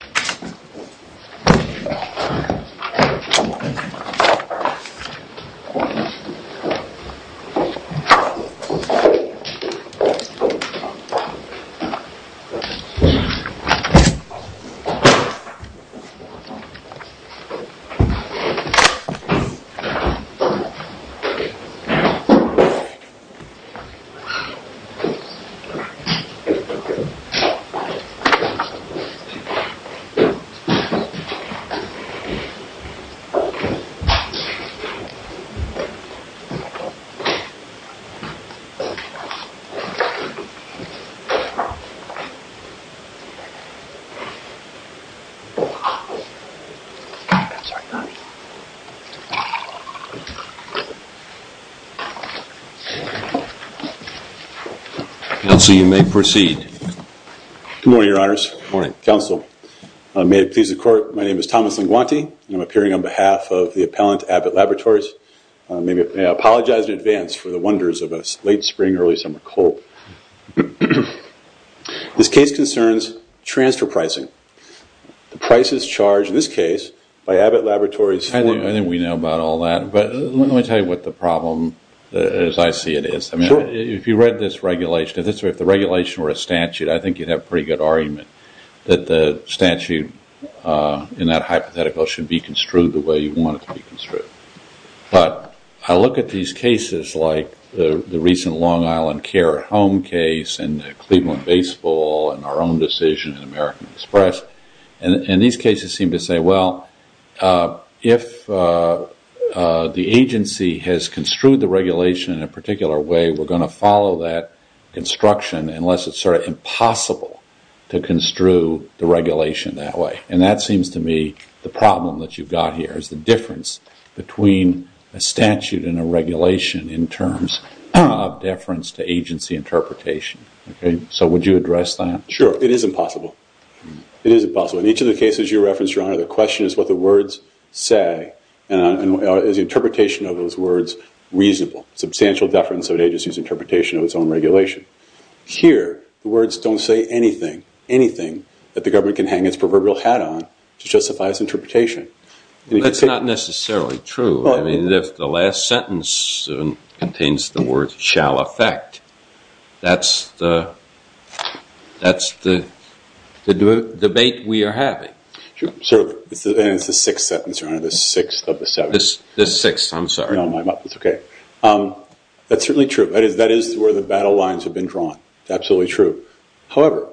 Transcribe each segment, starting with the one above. the court. May it please the court, my name is Thomas Linguanti, and I'm appearing on behalf of the appellant Abbott Laboratories, and I apologize in advance for the wonders of a late spring early summer cold. This case concerns transfer pricing, the prices charged in this case by Abbott Laboratories I think we know about all that, but let me tell you what the problem as I see it is. If you read this regulation, if the regulation were a statute, I think you'd have a pretty good argument that the statute in that hypothetical should be construed the way you want it to be construed. But I look at these cases like the recent Long Island care home case, and the Cleveland baseball, and our own decision in American Express, and these cases seem to say well if the agency has construed the regulation in a particular way, we're going to follow that construction unless it's sort of impossible to construe the regulation that way. And that seems to me the problem that you've got here is the difference between a statute and a regulation in terms of deference to agency interpretation. So would you address that? Sure. It is impossible. It is impossible. In each of the cases you referenced your honor, the question is what the words say, and is the interpretation of those words reasonable? Substantial deference of an agency's interpretation of its own regulation. Here the words don't say anything, anything that the government can hang its proverbial hat on to justify its interpretation. That's not necessarily true. I mean if the last sentence contains the words shall affect, that's the debate we are having. Sure. And it's the sixth sentence your honor, the sixth of the seven. The sixth, I'm sorry. No, I'm up. It's okay. That's certainly true. That is where the battle lines have been drawn. Absolutely true. However,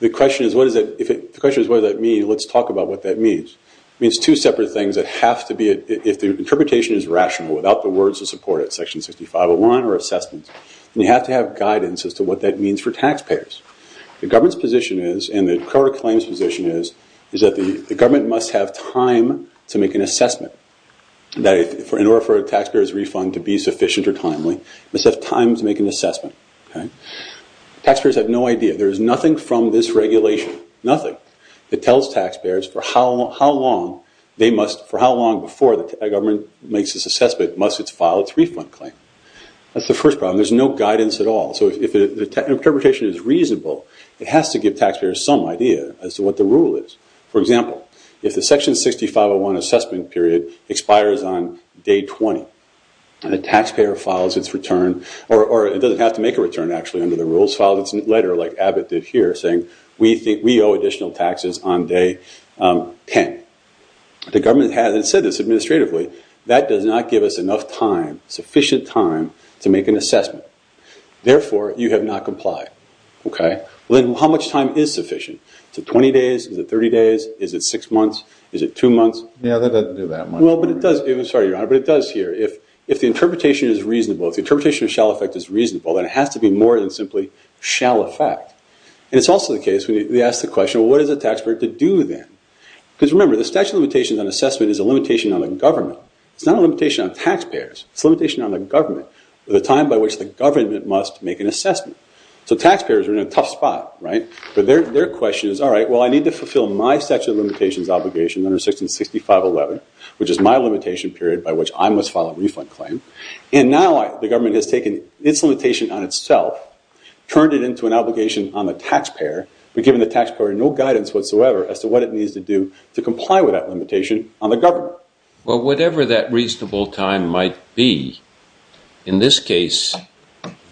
the question is what does that mean? Let's talk about what that means. It means two separate things that have to be, if the interpretation is rational without the words to support it, section 65, a line or assessment, then you have to have guidance as to what that means for taxpayers. The government's position is, and the court of claims position is, is that the government must have time to make an assessment, in order for a taxpayer's refund to be sufficient or timely, must have time to make an assessment. Taxpayers have no idea. There is nothing from this regulation, nothing, that tells taxpayers for how long they must, for how long before the government makes this assessment must it file its refund claim. That's the first problem. There's no guidance at all. So if the interpretation is reasonable, it has to give taxpayers some idea as to what the rule is. For example, if the section 6501 assessment period expires on day 20, and the taxpayer files its return, or it doesn't have to make a return actually under the rules, files its letter like Abbott did here saying, we owe additional taxes on day 10. The government has said this administratively, that does not give us enough time, sufficient time to make an assessment. Therefore, you have not complied. Okay? Well then how much time is sufficient? Is it 20 days? Is it 30 days? Is it six months? Is it two months? Yeah, that doesn't do that much. Well, but it does. I'm sorry, Your Honor. But it does here. If the interpretation is reasonable, if the interpretation of shall effect is reasonable, then it has to be more than simply shall effect. And it's also the case when we ask the question, well, what is a taxpayer to do then? Because remember, the statute of limitations on assessment is a limitation on the government. It's not a limitation on taxpayers, it's a limitation on the government, the time by which the government must make an assessment. So taxpayers are in a tough spot, right? But their question is, all right, well, I need to fulfill my statute of limitations obligation under Section 6511, which is my limitation period by which I must file a refund claim. And now the government has taken its limitation on itself, turned it into an obligation on the taxpayer, but given the taxpayer no guidance whatsoever as to what it needs to do to comply with that limitation on the government. Well whatever that reasonable time might be, in this case,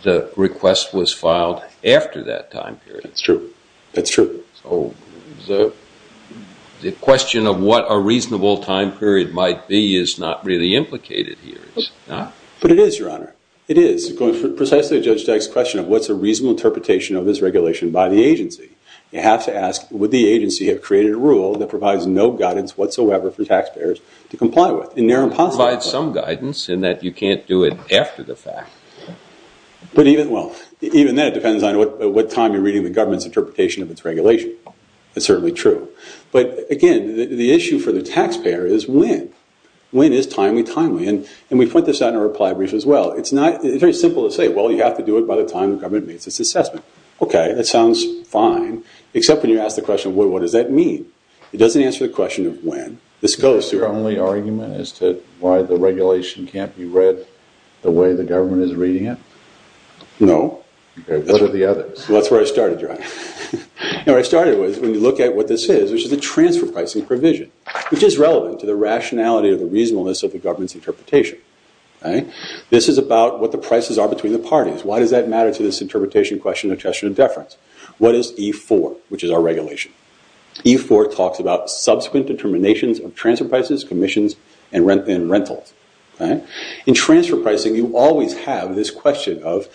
the request was filed after that time period. That's true. That's true. So the question of what a reasonable time period might be is not really implicated here. It's not. But it is, Your Honor. It is. Precisely to Judge Deck's question of what's a reasonable interpretation of this regulation by the agency. You have to ask, would the agency have created a rule that provides no guidance whatsoever for taxpayers to comply with? In their impossibility. It provides some guidance in that you can't do it after the fact. But even, well, even then it depends on what time you're reading the government's interpretation of its regulation. That's certainly true. But again, the issue for the taxpayer is when. When is timely? Timely? And we point this out in our reply brief as well. It's not, it's very simple to say, well you have to do it by the time the government makes its assessment. Okay. That sounds fine. Except when you ask the question, well what does that mean? It doesn't answer the question of when. This goes to... The way the government is reading it? No. Okay. What are the others? Well that's where I started, John. You know what I started with, when you look at what this is, which is the transfer pricing provision. Which is relevant to the rationality of the reasonableness of the government's interpretation. This is about what the prices are between the parties. Why does that matter to this interpretation question of attestation of deference? What is E4? Which is our regulation. E4 talks about subsequent determinations of transfer prices, commissions, and rentals. Okay. In transfer pricing you always have this question of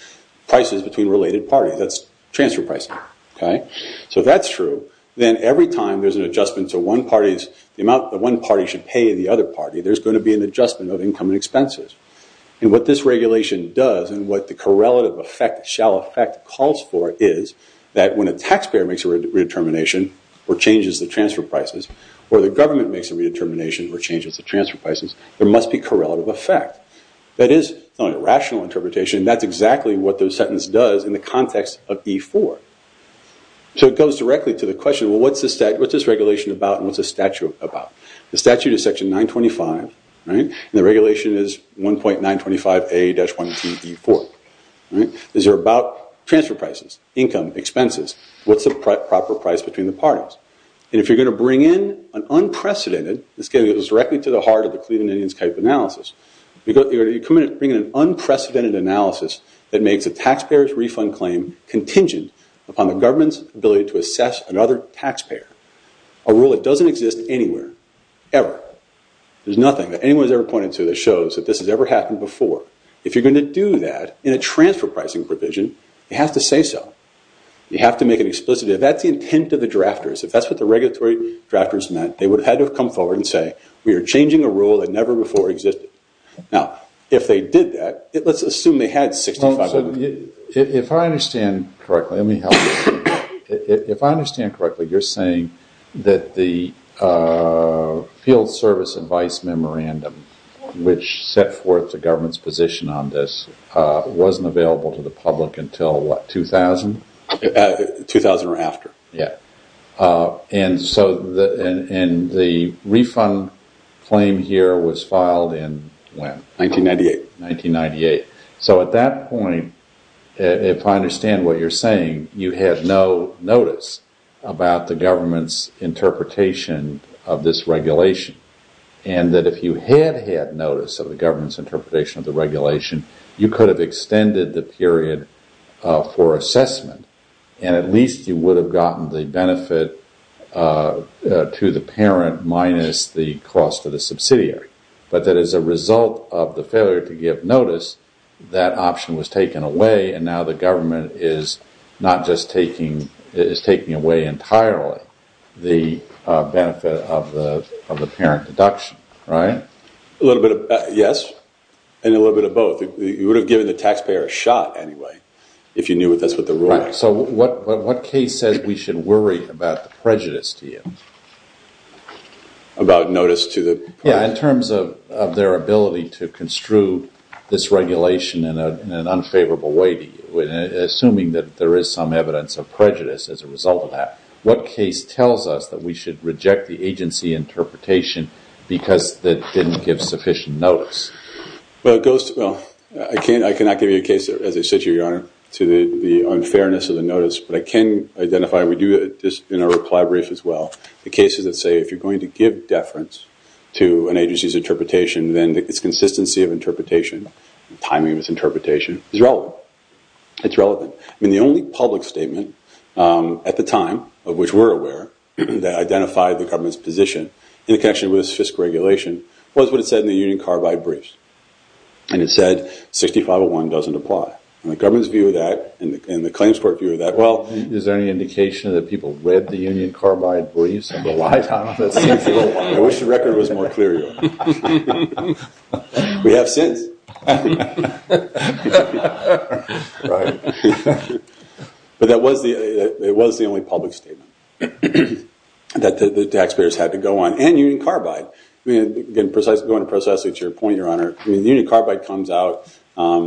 prices between related parties. That's transfer pricing. Okay. So if that's true, then every time there's an adjustment to one party's, the amount that one party should pay the other party, there's going to be an adjustment of income and expenses. And what this regulation does, and what the correlative effect, shall effect, calls for is that when a taxpayer makes a redetermination, or changes the transfer prices, or the government makes a redetermination or changes the transfer prices, there must be correlative effect. That is a rational interpretation, and that's exactly what the sentence does in the context of E4. So it goes directly to the question, well what's this regulation about, and what's the statute about? The statute is section 925, and the regulation is 1.925A-1TE4. These are about transfer prices, income, expenses. What's the proper price between the parties? And if you're going to bring in an unprecedented, this goes directly to the heart of the Cleveland Indians type analysis, you're going to bring in an unprecedented analysis that makes a taxpayer's refund claim contingent upon the government's ability to assess another taxpayer. A rule that doesn't exist anywhere, ever. There's nothing that anyone's ever pointed to that shows that this has ever happened before. If you're going to do that in a transfer pricing provision, it has to say so. You have to make it explicit. If that's the intent of the drafters, if that's what the regulatory drafters meant, they would have had to have come forward and say, we are changing a rule that never before existed. Now if they did that, let's assume they had 65 million. If I understand correctly, let me help you. If I understand correctly, you're saying that the Field Service Advice Memorandum, which set forth the government's position on this, wasn't available to the public until what, 2000? 2000 or after. Yeah. And so the refund claim here was filed in when? 1998. 1998. So at that point, if I understand what you're saying, you had no notice about the government's interpretation of this regulation. And that if you had had notice of the government's interpretation of the regulation, you could have extended the period for assessment and at least you would have gotten the benefit to the parent minus the cost of the subsidiary. But that as a result of the failure to give notice, that option was taken away and now the government is not just taking, it is taking away entirely the benefit of the parent deduction. Right? Yes. And a little bit of both. You would have given the taxpayer a shot anyway, if you knew that's what the rule is. Right. So what case says we should worry about the prejudice to you? About notice to the- Yeah. In terms of their ability to construe this regulation in an unfavorable way, assuming that there is some evidence of prejudice as a result of that, what case tells us that we should reject the agency interpretation because it didn't give sufficient notice? Well, it goes to- Well, I cannot give you a case that, as I said to you, your honor, to the unfairness of the notice. But I can identify, we do this in our reply brief as well, the cases that say if you're going to give deference to an agency's interpretation, then its consistency of interpretation, timing of its interpretation is relevant. It's relevant. I mean, the only public statement at the time of which we're aware that identified the government's position in connection with this fiscal regulation was what it said in the Union Carbide Briefs. And it said 6501 doesn't apply. And the government's view of that and the claims court view of that, well- Is there any indication that people read the Union Carbide Briefs and relied on it? I wish the record was more clear, your honor. We have since. Right. But it was the only public statement that the taxpayers had to go on. And Union Carbide. I mean, again, going precisely to your point, your honor, Union Carbide comes out, I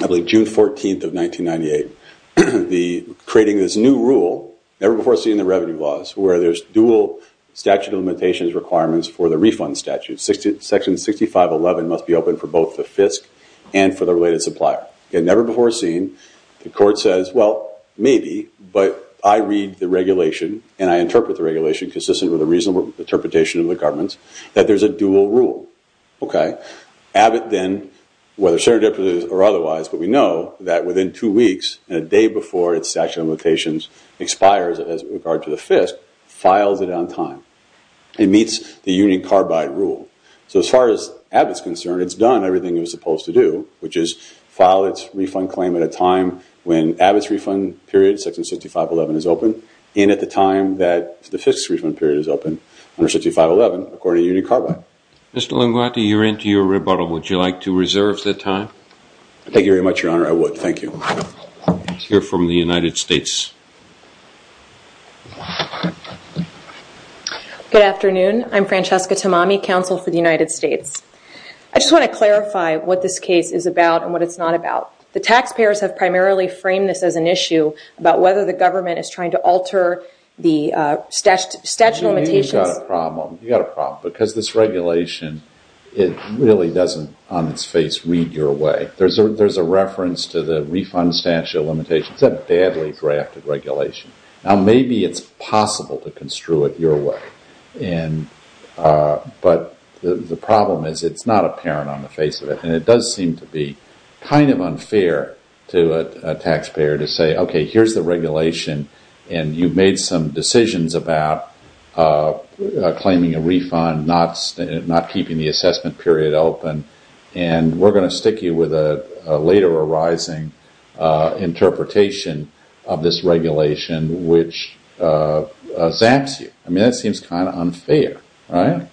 believe, June 14th of 1998, creating this new rule, never before seen in the revenue laws, where there's dual statute of limitations requirements for the refund statute. Section 6511 must be open for both the FISC and for the related supplier. Again, never before seen. The court says, well, maybe, but I read the regulation and I interpret the regulation consistent with a reasonable interpretation of the government's, that there's a dual rule. Okay. Abbott then, whether serendipitous or otherwise, but we know that within two weeks and a day before its statute of limitations expires as regard to the FISC, files it on time. It meets the Union Carbide rule. So as far as Abbott's concerned, it's done everything it was supposed to do, which is file its refund claim at a time when Abbott's refund period, section 6511, is open and at the time that the FISC's refund period is open under 6511, according to Union Carbide. Mr. Linguati, you're into your rebuttal. Would you like to reserve the time? Thank you very much, your honor. I would. Thank you. We'll hear from the United States. Good afternoon. I'm Francesca Tamami, Counsel for the United States. I just want to clarify what this case is about and what it's not about. The taxpayers have primarily framed this as an issue about whether the government is trying to alter the statute of limitations. You've got a problem. You've got a problem because this regulation, it really doesn't on its face read your way. There's a reference to the refund statute of limitations. It's a badly drafted regulation. Maybe it's possible to construe it your way, but the problem is it's not apparent on the face of it. It does seem to be kind of unfair to a taxpayer to say, okay, here's the regulation and you've made some decisions about claiming a refund, not keeping the assessment period open, and we're going to stick you with a later arising interpretation of this regulation, which zaps you. I mean, that seems kind of unfair, right?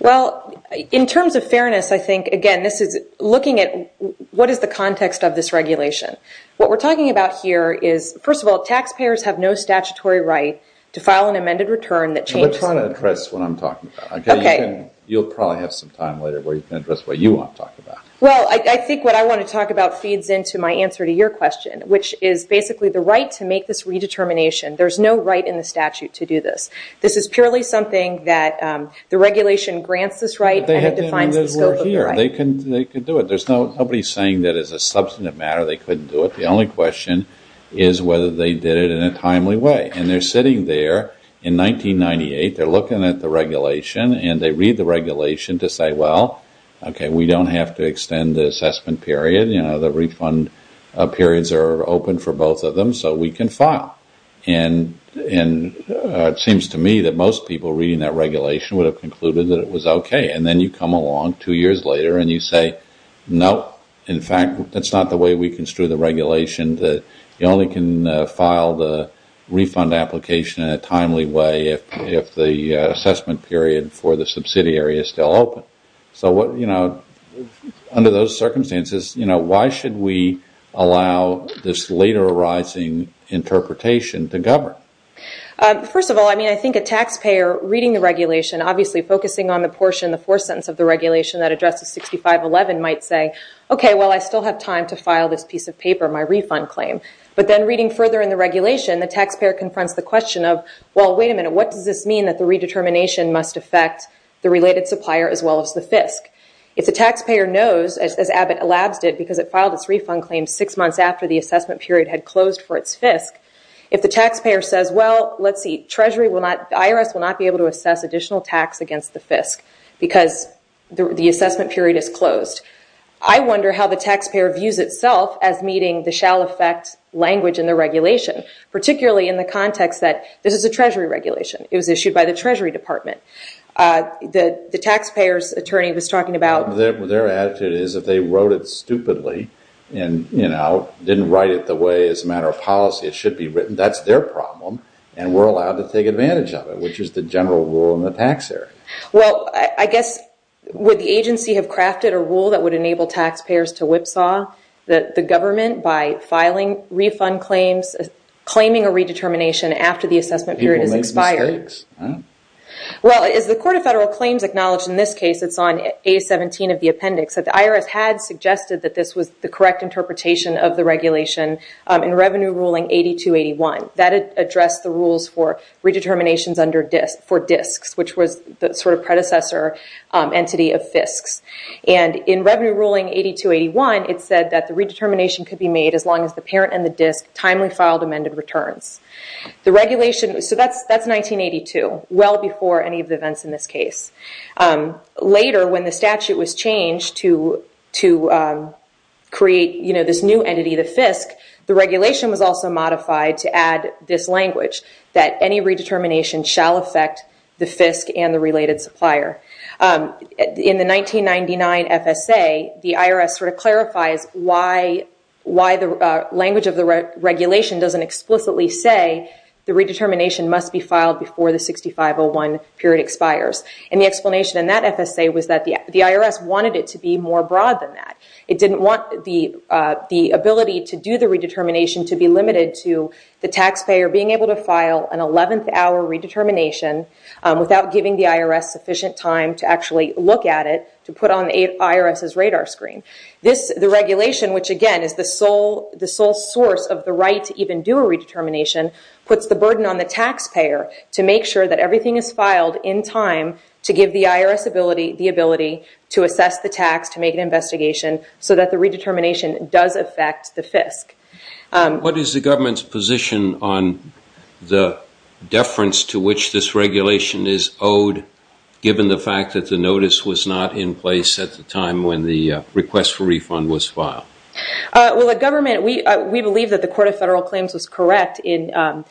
Well, in terms of fairness, I think, again, this is looking at what is the context of this regulation. What we're talking about here is, first of all, taxpayers have no statutory right to file an amended return that changes- We're trying to address what I'm talking about. You'll probably have some time later where you can address what you want to talk about. Well, I think what I want to talk about feeds into my answer to your question, which is basically the right to make this redetermination. There's no right in the statute to do this. This is purely something that the regulation grants this right and it defines the scope of the right. They can do it. There's nobody saying that as a substantive matter they couldn't do it. The only question is whether they did it in a timely way, and they're sitting there in the regulation and they read the regulation to say, well, okay, we don't have to extend the assessment period. The refund periods are open for both of them, so we can file. It seems to me that most people reading that regulation would have concluded that it was okay. Then you come along two years later and you say, no, in fact, that's not the way we construe the regulation. You only can file the refund application in a timely way if the assessment period for the subsidiary is still open. Under those circumstances, why should we allow this later arising interpretation to govern? First of all, I think a taxpayer reading the regulation, obviously focusing on the portion, the fourth sentence of the regulation that addresses 6511 might say, okay, well, I still have time to file this piece of paper, my refund claim, but then reading further in the regulation, the taxpayer confronts the question of, well, wait a minute, what does this mean that the redetermination must affect the related supplier as well as the FISC? If the taxpayer knows, as Abbott Labs did, because it filed its refund claim six months after the assessment period had closed for its FISC, if the taxpayer says, well, let's see, the IRS will not be able to assess additional tax against the FISC because the assessment period is closed. I wonder how the taxpayer views itself as meeting the shall affect language in the regulation, particularly in the context that this is a Treasury regulation. It was issued by the Treasury Department. The taxpayer's attorney was talking about- Their attitude is if they wrote it stupidly and didn't write it the way as a matter of policy it should be written, that's their problem, and we're allowed to take advantage of it, which is the general rule in the tax area. Well, I guess, would the agency have crafted a rule that would enable taxpayers to whipsaw the government by filing refund claims, claiming a redetermination after the assessment period has expired? People make mistakes. Well, as the Court of Federal Claims acknowledged in this case, it's on A17 of the appendix, that the IRS had suggested that this was the correct interpretation of the regulation in Revenue Ruling 8281. That addressed the rules for redeterminations for disks, which was the predecessor entity of FISCs. In Revenue Ruling 8281, it said that the redetermination could be made as long as the parent and the disk timely filed amended returns. The regulation- That's 1982, well before any of the events in this case. Later, when the statute was changed to create this new entity, the FISC, the regulation was also modified to add this language, that any redetermination shall affect the FISC and the related supplier. In the 1999 FSA, the IRS sort of clarifies why the language of the regulation doesn't explicitly say the redetermination must be filed before the 6501 period expires. The explanation in that FSA was that the IRS wanted it to be more broad than that. It didn't want the ability to do the redetermination to be limited to the taxpayer being able to file an 11th hour redetermination without giving the IRS sufficient time to actually look at it, to put on the IRS's radar screen. The regulation, which again is the sole source of the right to even do a redetermination, puts the burden on the taxpayer to make sure that everything is filed in time to give the IRS the ability to assess the tax, to make an investigation, so that the redetermination does affect the FISC. What is the government's position on the deference to which this regulation is owed, given the fact that the notice was not in place at the time when the request for refund was filed? Well, the government, we believe that the Court of Federal Claims was correct in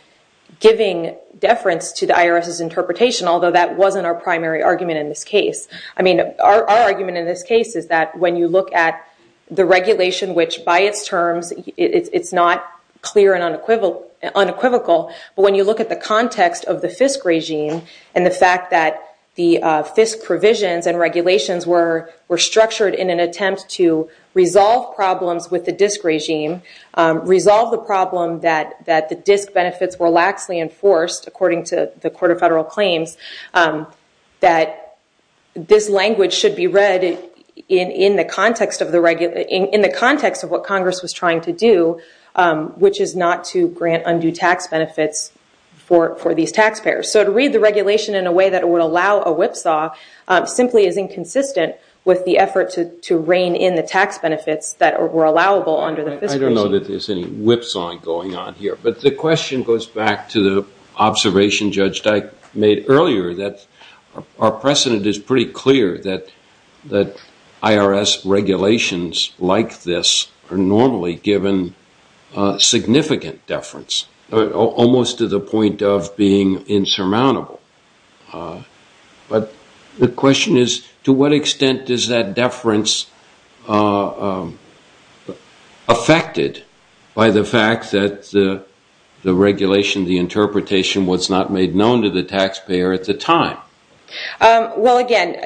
giving deference to the IRS's interpretation, although that wasn't our primary argument in this case. I mean, our argument in this case is that when you look at the regulation, which by its terms, it's not clear and unequivocal, but when you look at the context of the FISC regime and the fact that the FISC provisions and regulations were structured in an attempt to resolve problems with the DISC regime, resolve the problem that the DISC benefits were laxly enforced, according to the Court of Federal Claims, that this language should be read in the context of what Congress was trying to do, which is not to grant undue tax benefits for these taxpayers. So to read the regulation in a way that would allow a whipsaw simply is inconsistent with the effort to rein in the tax benefits that were allowable under the FISC regime. I don't know that there's any whipsawing going on here, but the question goes back to the observation Judge Dyke made earlier that our precedent is pretty clear that IRS regulations like this are normally given significant deference, almost to the point of being insurmountable. But the question is, to what extent is that deference affected by the fact that the regulation, the interpretation, was not made known to the taxpayer at the time? Well, again,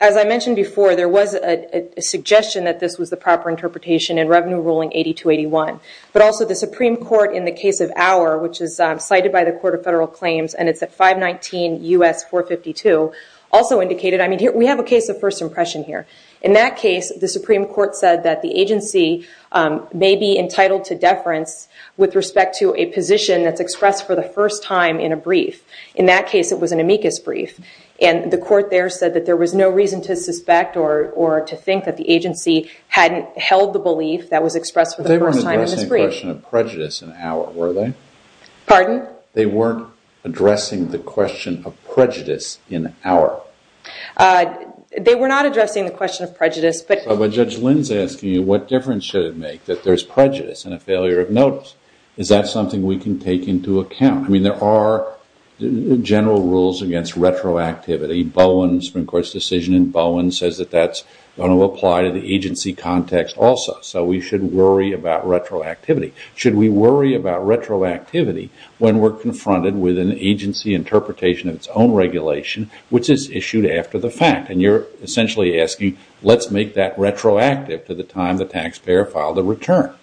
as I mentioned before, there was a suggestion that this was the proper interpretation in Revenue Ruling 8281, but also the Supreme Court in the case of Auer, which is cited by the Court of Federal Claims, and it's at 519 U.S. 452, also indicated, I mean, we have a case of first impression here. In that case, the Supreme Court said that the agency may be entitled to deference with respect to a position that's expressed for the first time in a brief. In that case, it was an amicus brief, and the court there said that there was no reason to suspect or to think that the agency hadn't held the belief that was expressed for the first time in this brief. They weren't addressing the question of prejudice in Auer, were they? Pardon? They weren't addressing the question of prejudice in Auer. They were not addressing the question of prejudice, but- But Judge Lynn's asking you, what difference should it make that there's prejudice and a failure of notice? Is that something we can take into account? I mean, there are general rules against retroactivity. Bowen's Supreme Court's decision in Bowen says that that's going to apply to the agency context also, so we should worry about retroactivity. Should we worry about retroactivity when we're confronted with an agency interpretation of its own regulation, which is issued after the fact? And you're essentially asking, let's make that retroactive to the time the taxpayer filed a return.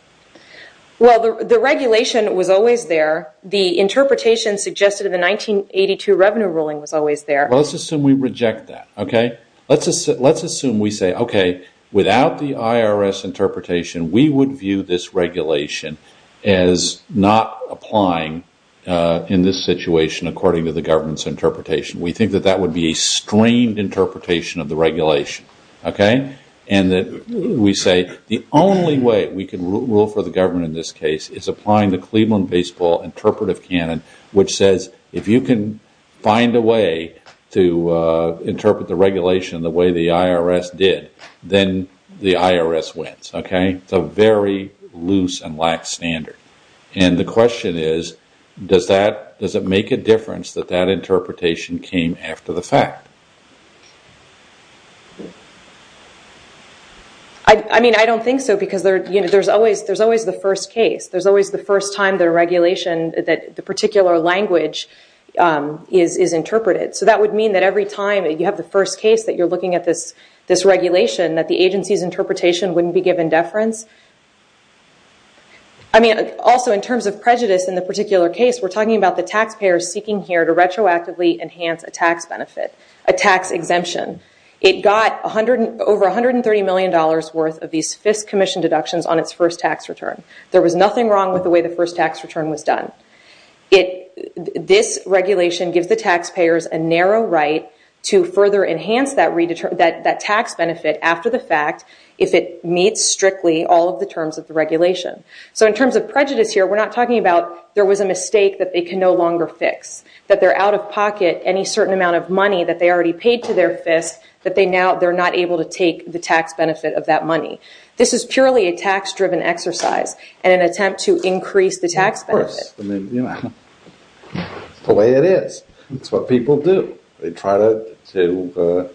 Well, the regulation was always there. The interpretation suggested in the 1982 revenue ruling was always there. Well, let's assume we reject that, okay? Let's assume we say, okay, without the IRS interpretation, we would view this regulation as not applying in this situation according to the government's interpretation. We think that that would be a strained interpretation of the regulation, okay? And we say, the only way we can rule for the government in this case is applying the Cleveland the IRS did, then the IRS wins, okay? It's a very loose and lax standard. And the question is, does it make a difference that that interpretation came after the fact? I mean, I don't think so because there's always the first case. There's always the first time the regulation, the particular language is interpreted. So that would mean that every time you have the first case that you're looking at this regulation, that the agency's interpretation wouldn't be given deference. I mean, also in terms of prejudice in the particular case, we're talking about the taxpayers seeking here to retroactively enhance a tax benefit, a tax exemption. It got over $130 million worth of these Fisk Commission deductions on its first tax return. There was nothing wrong with the way the first tax return was done. It, this regulation gives the taxpayers a narrow right to further enhance that tax benefit after the fact, if it meets strictly all of the terms of the regulation. So in terms of prejudice here, we're not talking about there was a mistake that they can no longer fix, that they're out of pocket any certain amount of money that they already paid to their fists, that they now, they're not able to take the tax benefit of that money. This is purely a tax driven exercise and an attempt to increase the tax benefit. I mean, you know, the way it is. That's what people do. They try to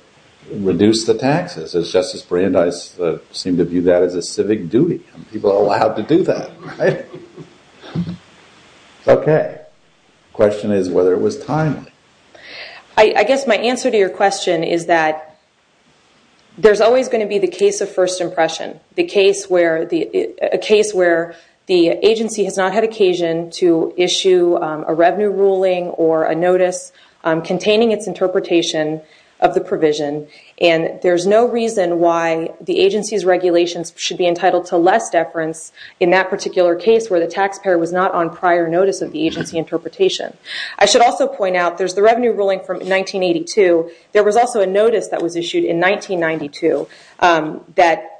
reduce the taxes as Justice Brandeis seemed to view that as a civic duty. People are allowed to do that, right? Okay. Question is whether it was timely. I guess my answer to your question is that there's always going to be the case of first to issue a revenue ruling or a notice containing its interpretation of the provision. And there's no reason why the agency's regulations should be entitled to less deference in that particular case where the taxpayer was not on prior notice of the agency interpretation. I should also point out there's the revenue ruling from 1982. There was also a notice that was issued in 1992 that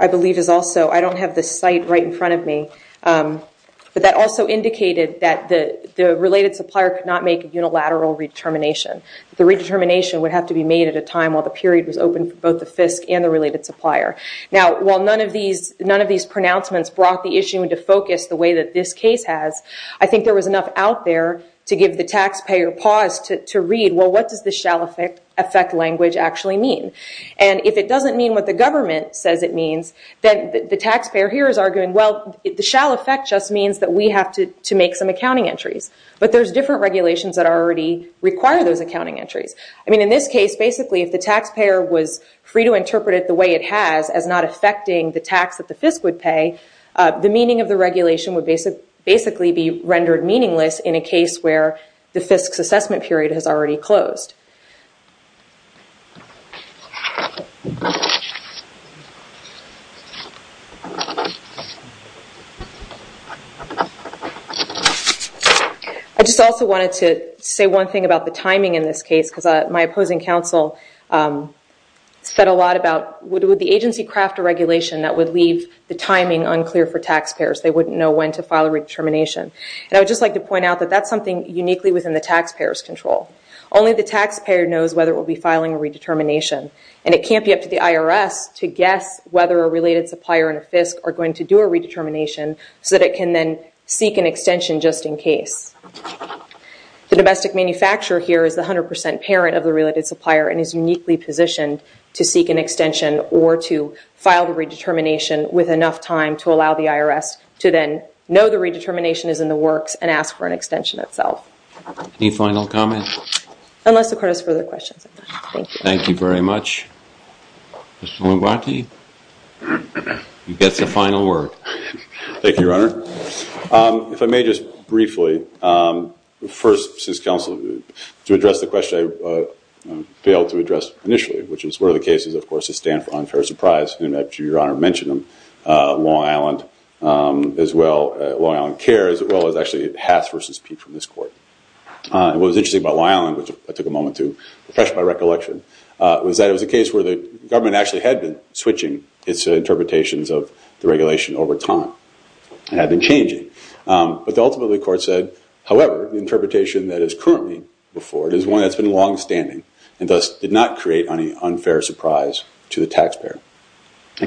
I believe is also, I don't have the site right in front of me. But that also indicated that the related supplier could not make a unilateral redetermination. The redetermination would have to be made at a time while the period was open for both the FISC and the related supplier. Now, while none of these pronouncements brought the issue into focus the way that this case has, I think there was enough out there to give the taxpayer pause to read, well, what does the shall effect language actually mean? And if it doesn't mean what the government says it means, then the taxpayer here is arguing, well, the shall effect just means that we have to make some accounting entries. But there's different regulations that already require those accounting entries. I mean, in this case, basically, if the taxpayer was free to interpret it the way it has as not affecting the tax that the FISC would pay, the meaning of the regulation would basically be rendered meaningless in a case where the FISC's assessment period has already closed. I just also wanted to say one thing about the timing in this case, because my opposing counsel said a lot about, would the agency craft a regulation that would leave the timing unclear for taxpayers? They wouldn't know when to file a redetermination. And I would just like to point out that that's something uniquely within the taxpayer's control. Only the taxpayer knows whether it will be filing a redetermination. And it can't be up to the IRS to guess whether a related supplier and a FISC are going to do a redetermination so that it can then seek an extension just in case. The domestic manufacturer here is the 100% parent of the related supplier and is uniquely positioned to seek an extension or to file the redetermination with enough time to allow the IRS to then know the redetermination is in the works and ask for an extension itself. Any final comments? Unless the court has further questions. Thank you very much. Mr. Lombardi, you get the final word. Thank you, Your Honor. If I may just briefly, first, since counsel, to address the question I failed to address initially, which is what are the cases, of course, that stand for unfair surprise, and that Your Honor mentioned them, Long Island as well, Long Island Care, as well as actually Hath v. Pete from this court. What was interesting about Long Island, which I took a moment to refresh my recollection, was that it was a case where the government actually had been switching its interpretations of the regulation over time. It had been changing. But ultimately, the court said, however, the interpretation that is currently before it is one that's been longstanding and thus did not create any unfair surprise to the taxpayer.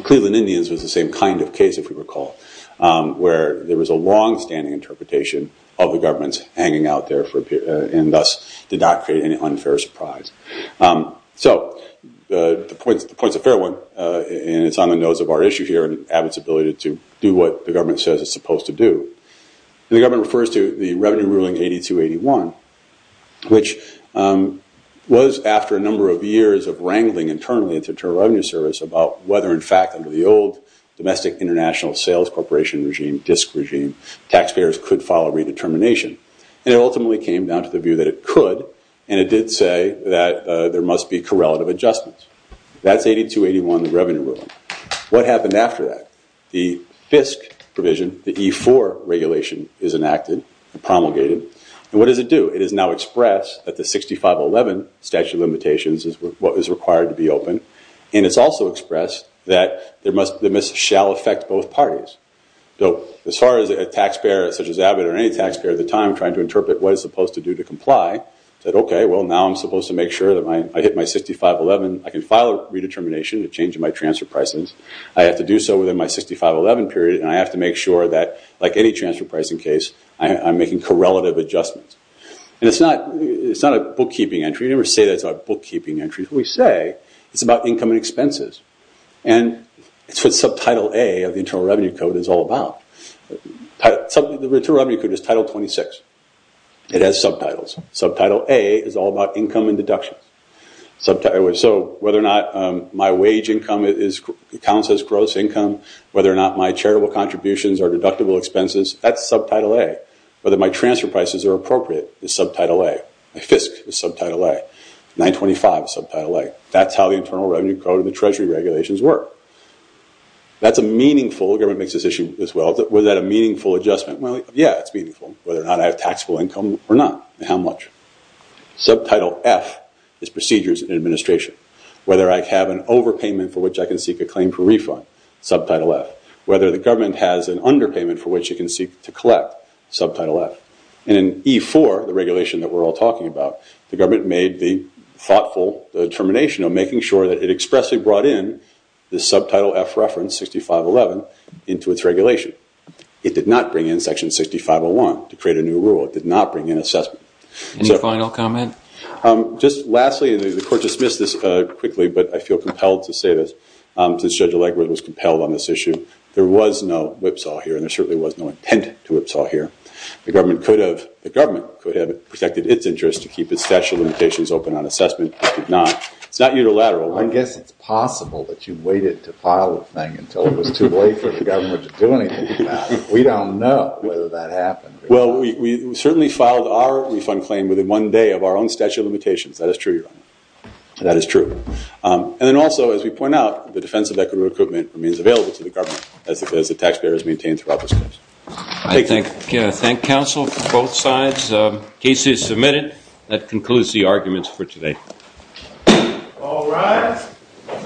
Cleveland Indians was the same kind of case, if you recall, where there was a longstanding interpretation of the government's hanging out there and thus did not create any unfair surprise. So the point's a fair one, and it's on the nose of our issue here and Abbott's ability to do what the government says it's supposed to do. The government refers to the Revenue Ruling 8281, which was after a number of years of wrangling internally at the Internal Revenue Service about whether, in fact, under the old International Sales Corporation regime, DISC regime, taxpayers could file a redetermination. And it ultimately came down to the view that it could, and it did say that there must be correlative adjustments. That's 8281, the Revenue Ruling. What happened after that? The FISC provision, the E-4 regulation, is enacted and promulgated. And what does it do? It has now expressed that the 6511 statute of limitations is what is required to be open. And it's also expressed that the MISP shall affect both parties. So as far as a taxpayer such as Abbott or any taxpayer at the time trying to interpret what it's supposed to do to comply said, OK, well, now I'm supposed to make sure that I hit my 6511. I can file a redetermination, a change in my transfer prices. I have to do so within my 6511 period, and I have to make sure that, like any transfer pricing case, I'm making correlative adjustments. And it's not a bookkeeping entry. We never say that it's a bookkeeping entry. We say it's about income and expenses. And it's what Subtitle A of the Internal Revenue Code is all about. The Internal Revenue Code is Title 26. It has subtitles. Subtitle A is all about income and deductions. So whether or not my wage income counts as gross income, whether or not my charitable contributions are deductible expenses, that's Subtitle A. Whether my transfer prices are appropriate is Subtitle A. My FISC is Subtitle A. 925 is Subtitle A. That's how the Internal Revenue Code and the Treasury regulations work. That's a meaningful—the government makes this issue as well. Was that a meaningful adjustment? Well, yeah, it's meaningful, whether or not I have taxable income or not, and how much. Subtitle F is procedures and administration. Whether I have an overpayment for which I can seek a claim for refund, Subtitle F. Whether the government has an underpayment for which it can seek to collect, Subtitle F. And in E4, the regulation that we're all talking about, the government made the thoughtful determination of making sure that it expressly brought in the subtitle F reference 6511 into its regulation. It did not bring in Section 6501 to create a new rule. It did not bring in assessment. Any final comment? Just lastly, and the Court dismissed this quickly, but I feel compelled to say this, since Judge Allegred was compelled on this issue. There was no whipsaw here, and there certainly was no intent to whipsaw here. The government could have protected its interest to keep its statute of limitations open on assessment. It did not. It's not unilateral. I guess it's possible that you waited to file the thing until it was too late for the government to do anything about it. We don't know whether that happened. Well, we certainly filed our refund claim within one day of our own statute of limitations. That is true, Your Honor. That is true. And then also, as we point out, the defense of equitable recruitment remains available to the government, as the taxpayer has maintained throughout this case. I thank counsel from both sides. The case is submitted. That concludes the arguments for today. All rise.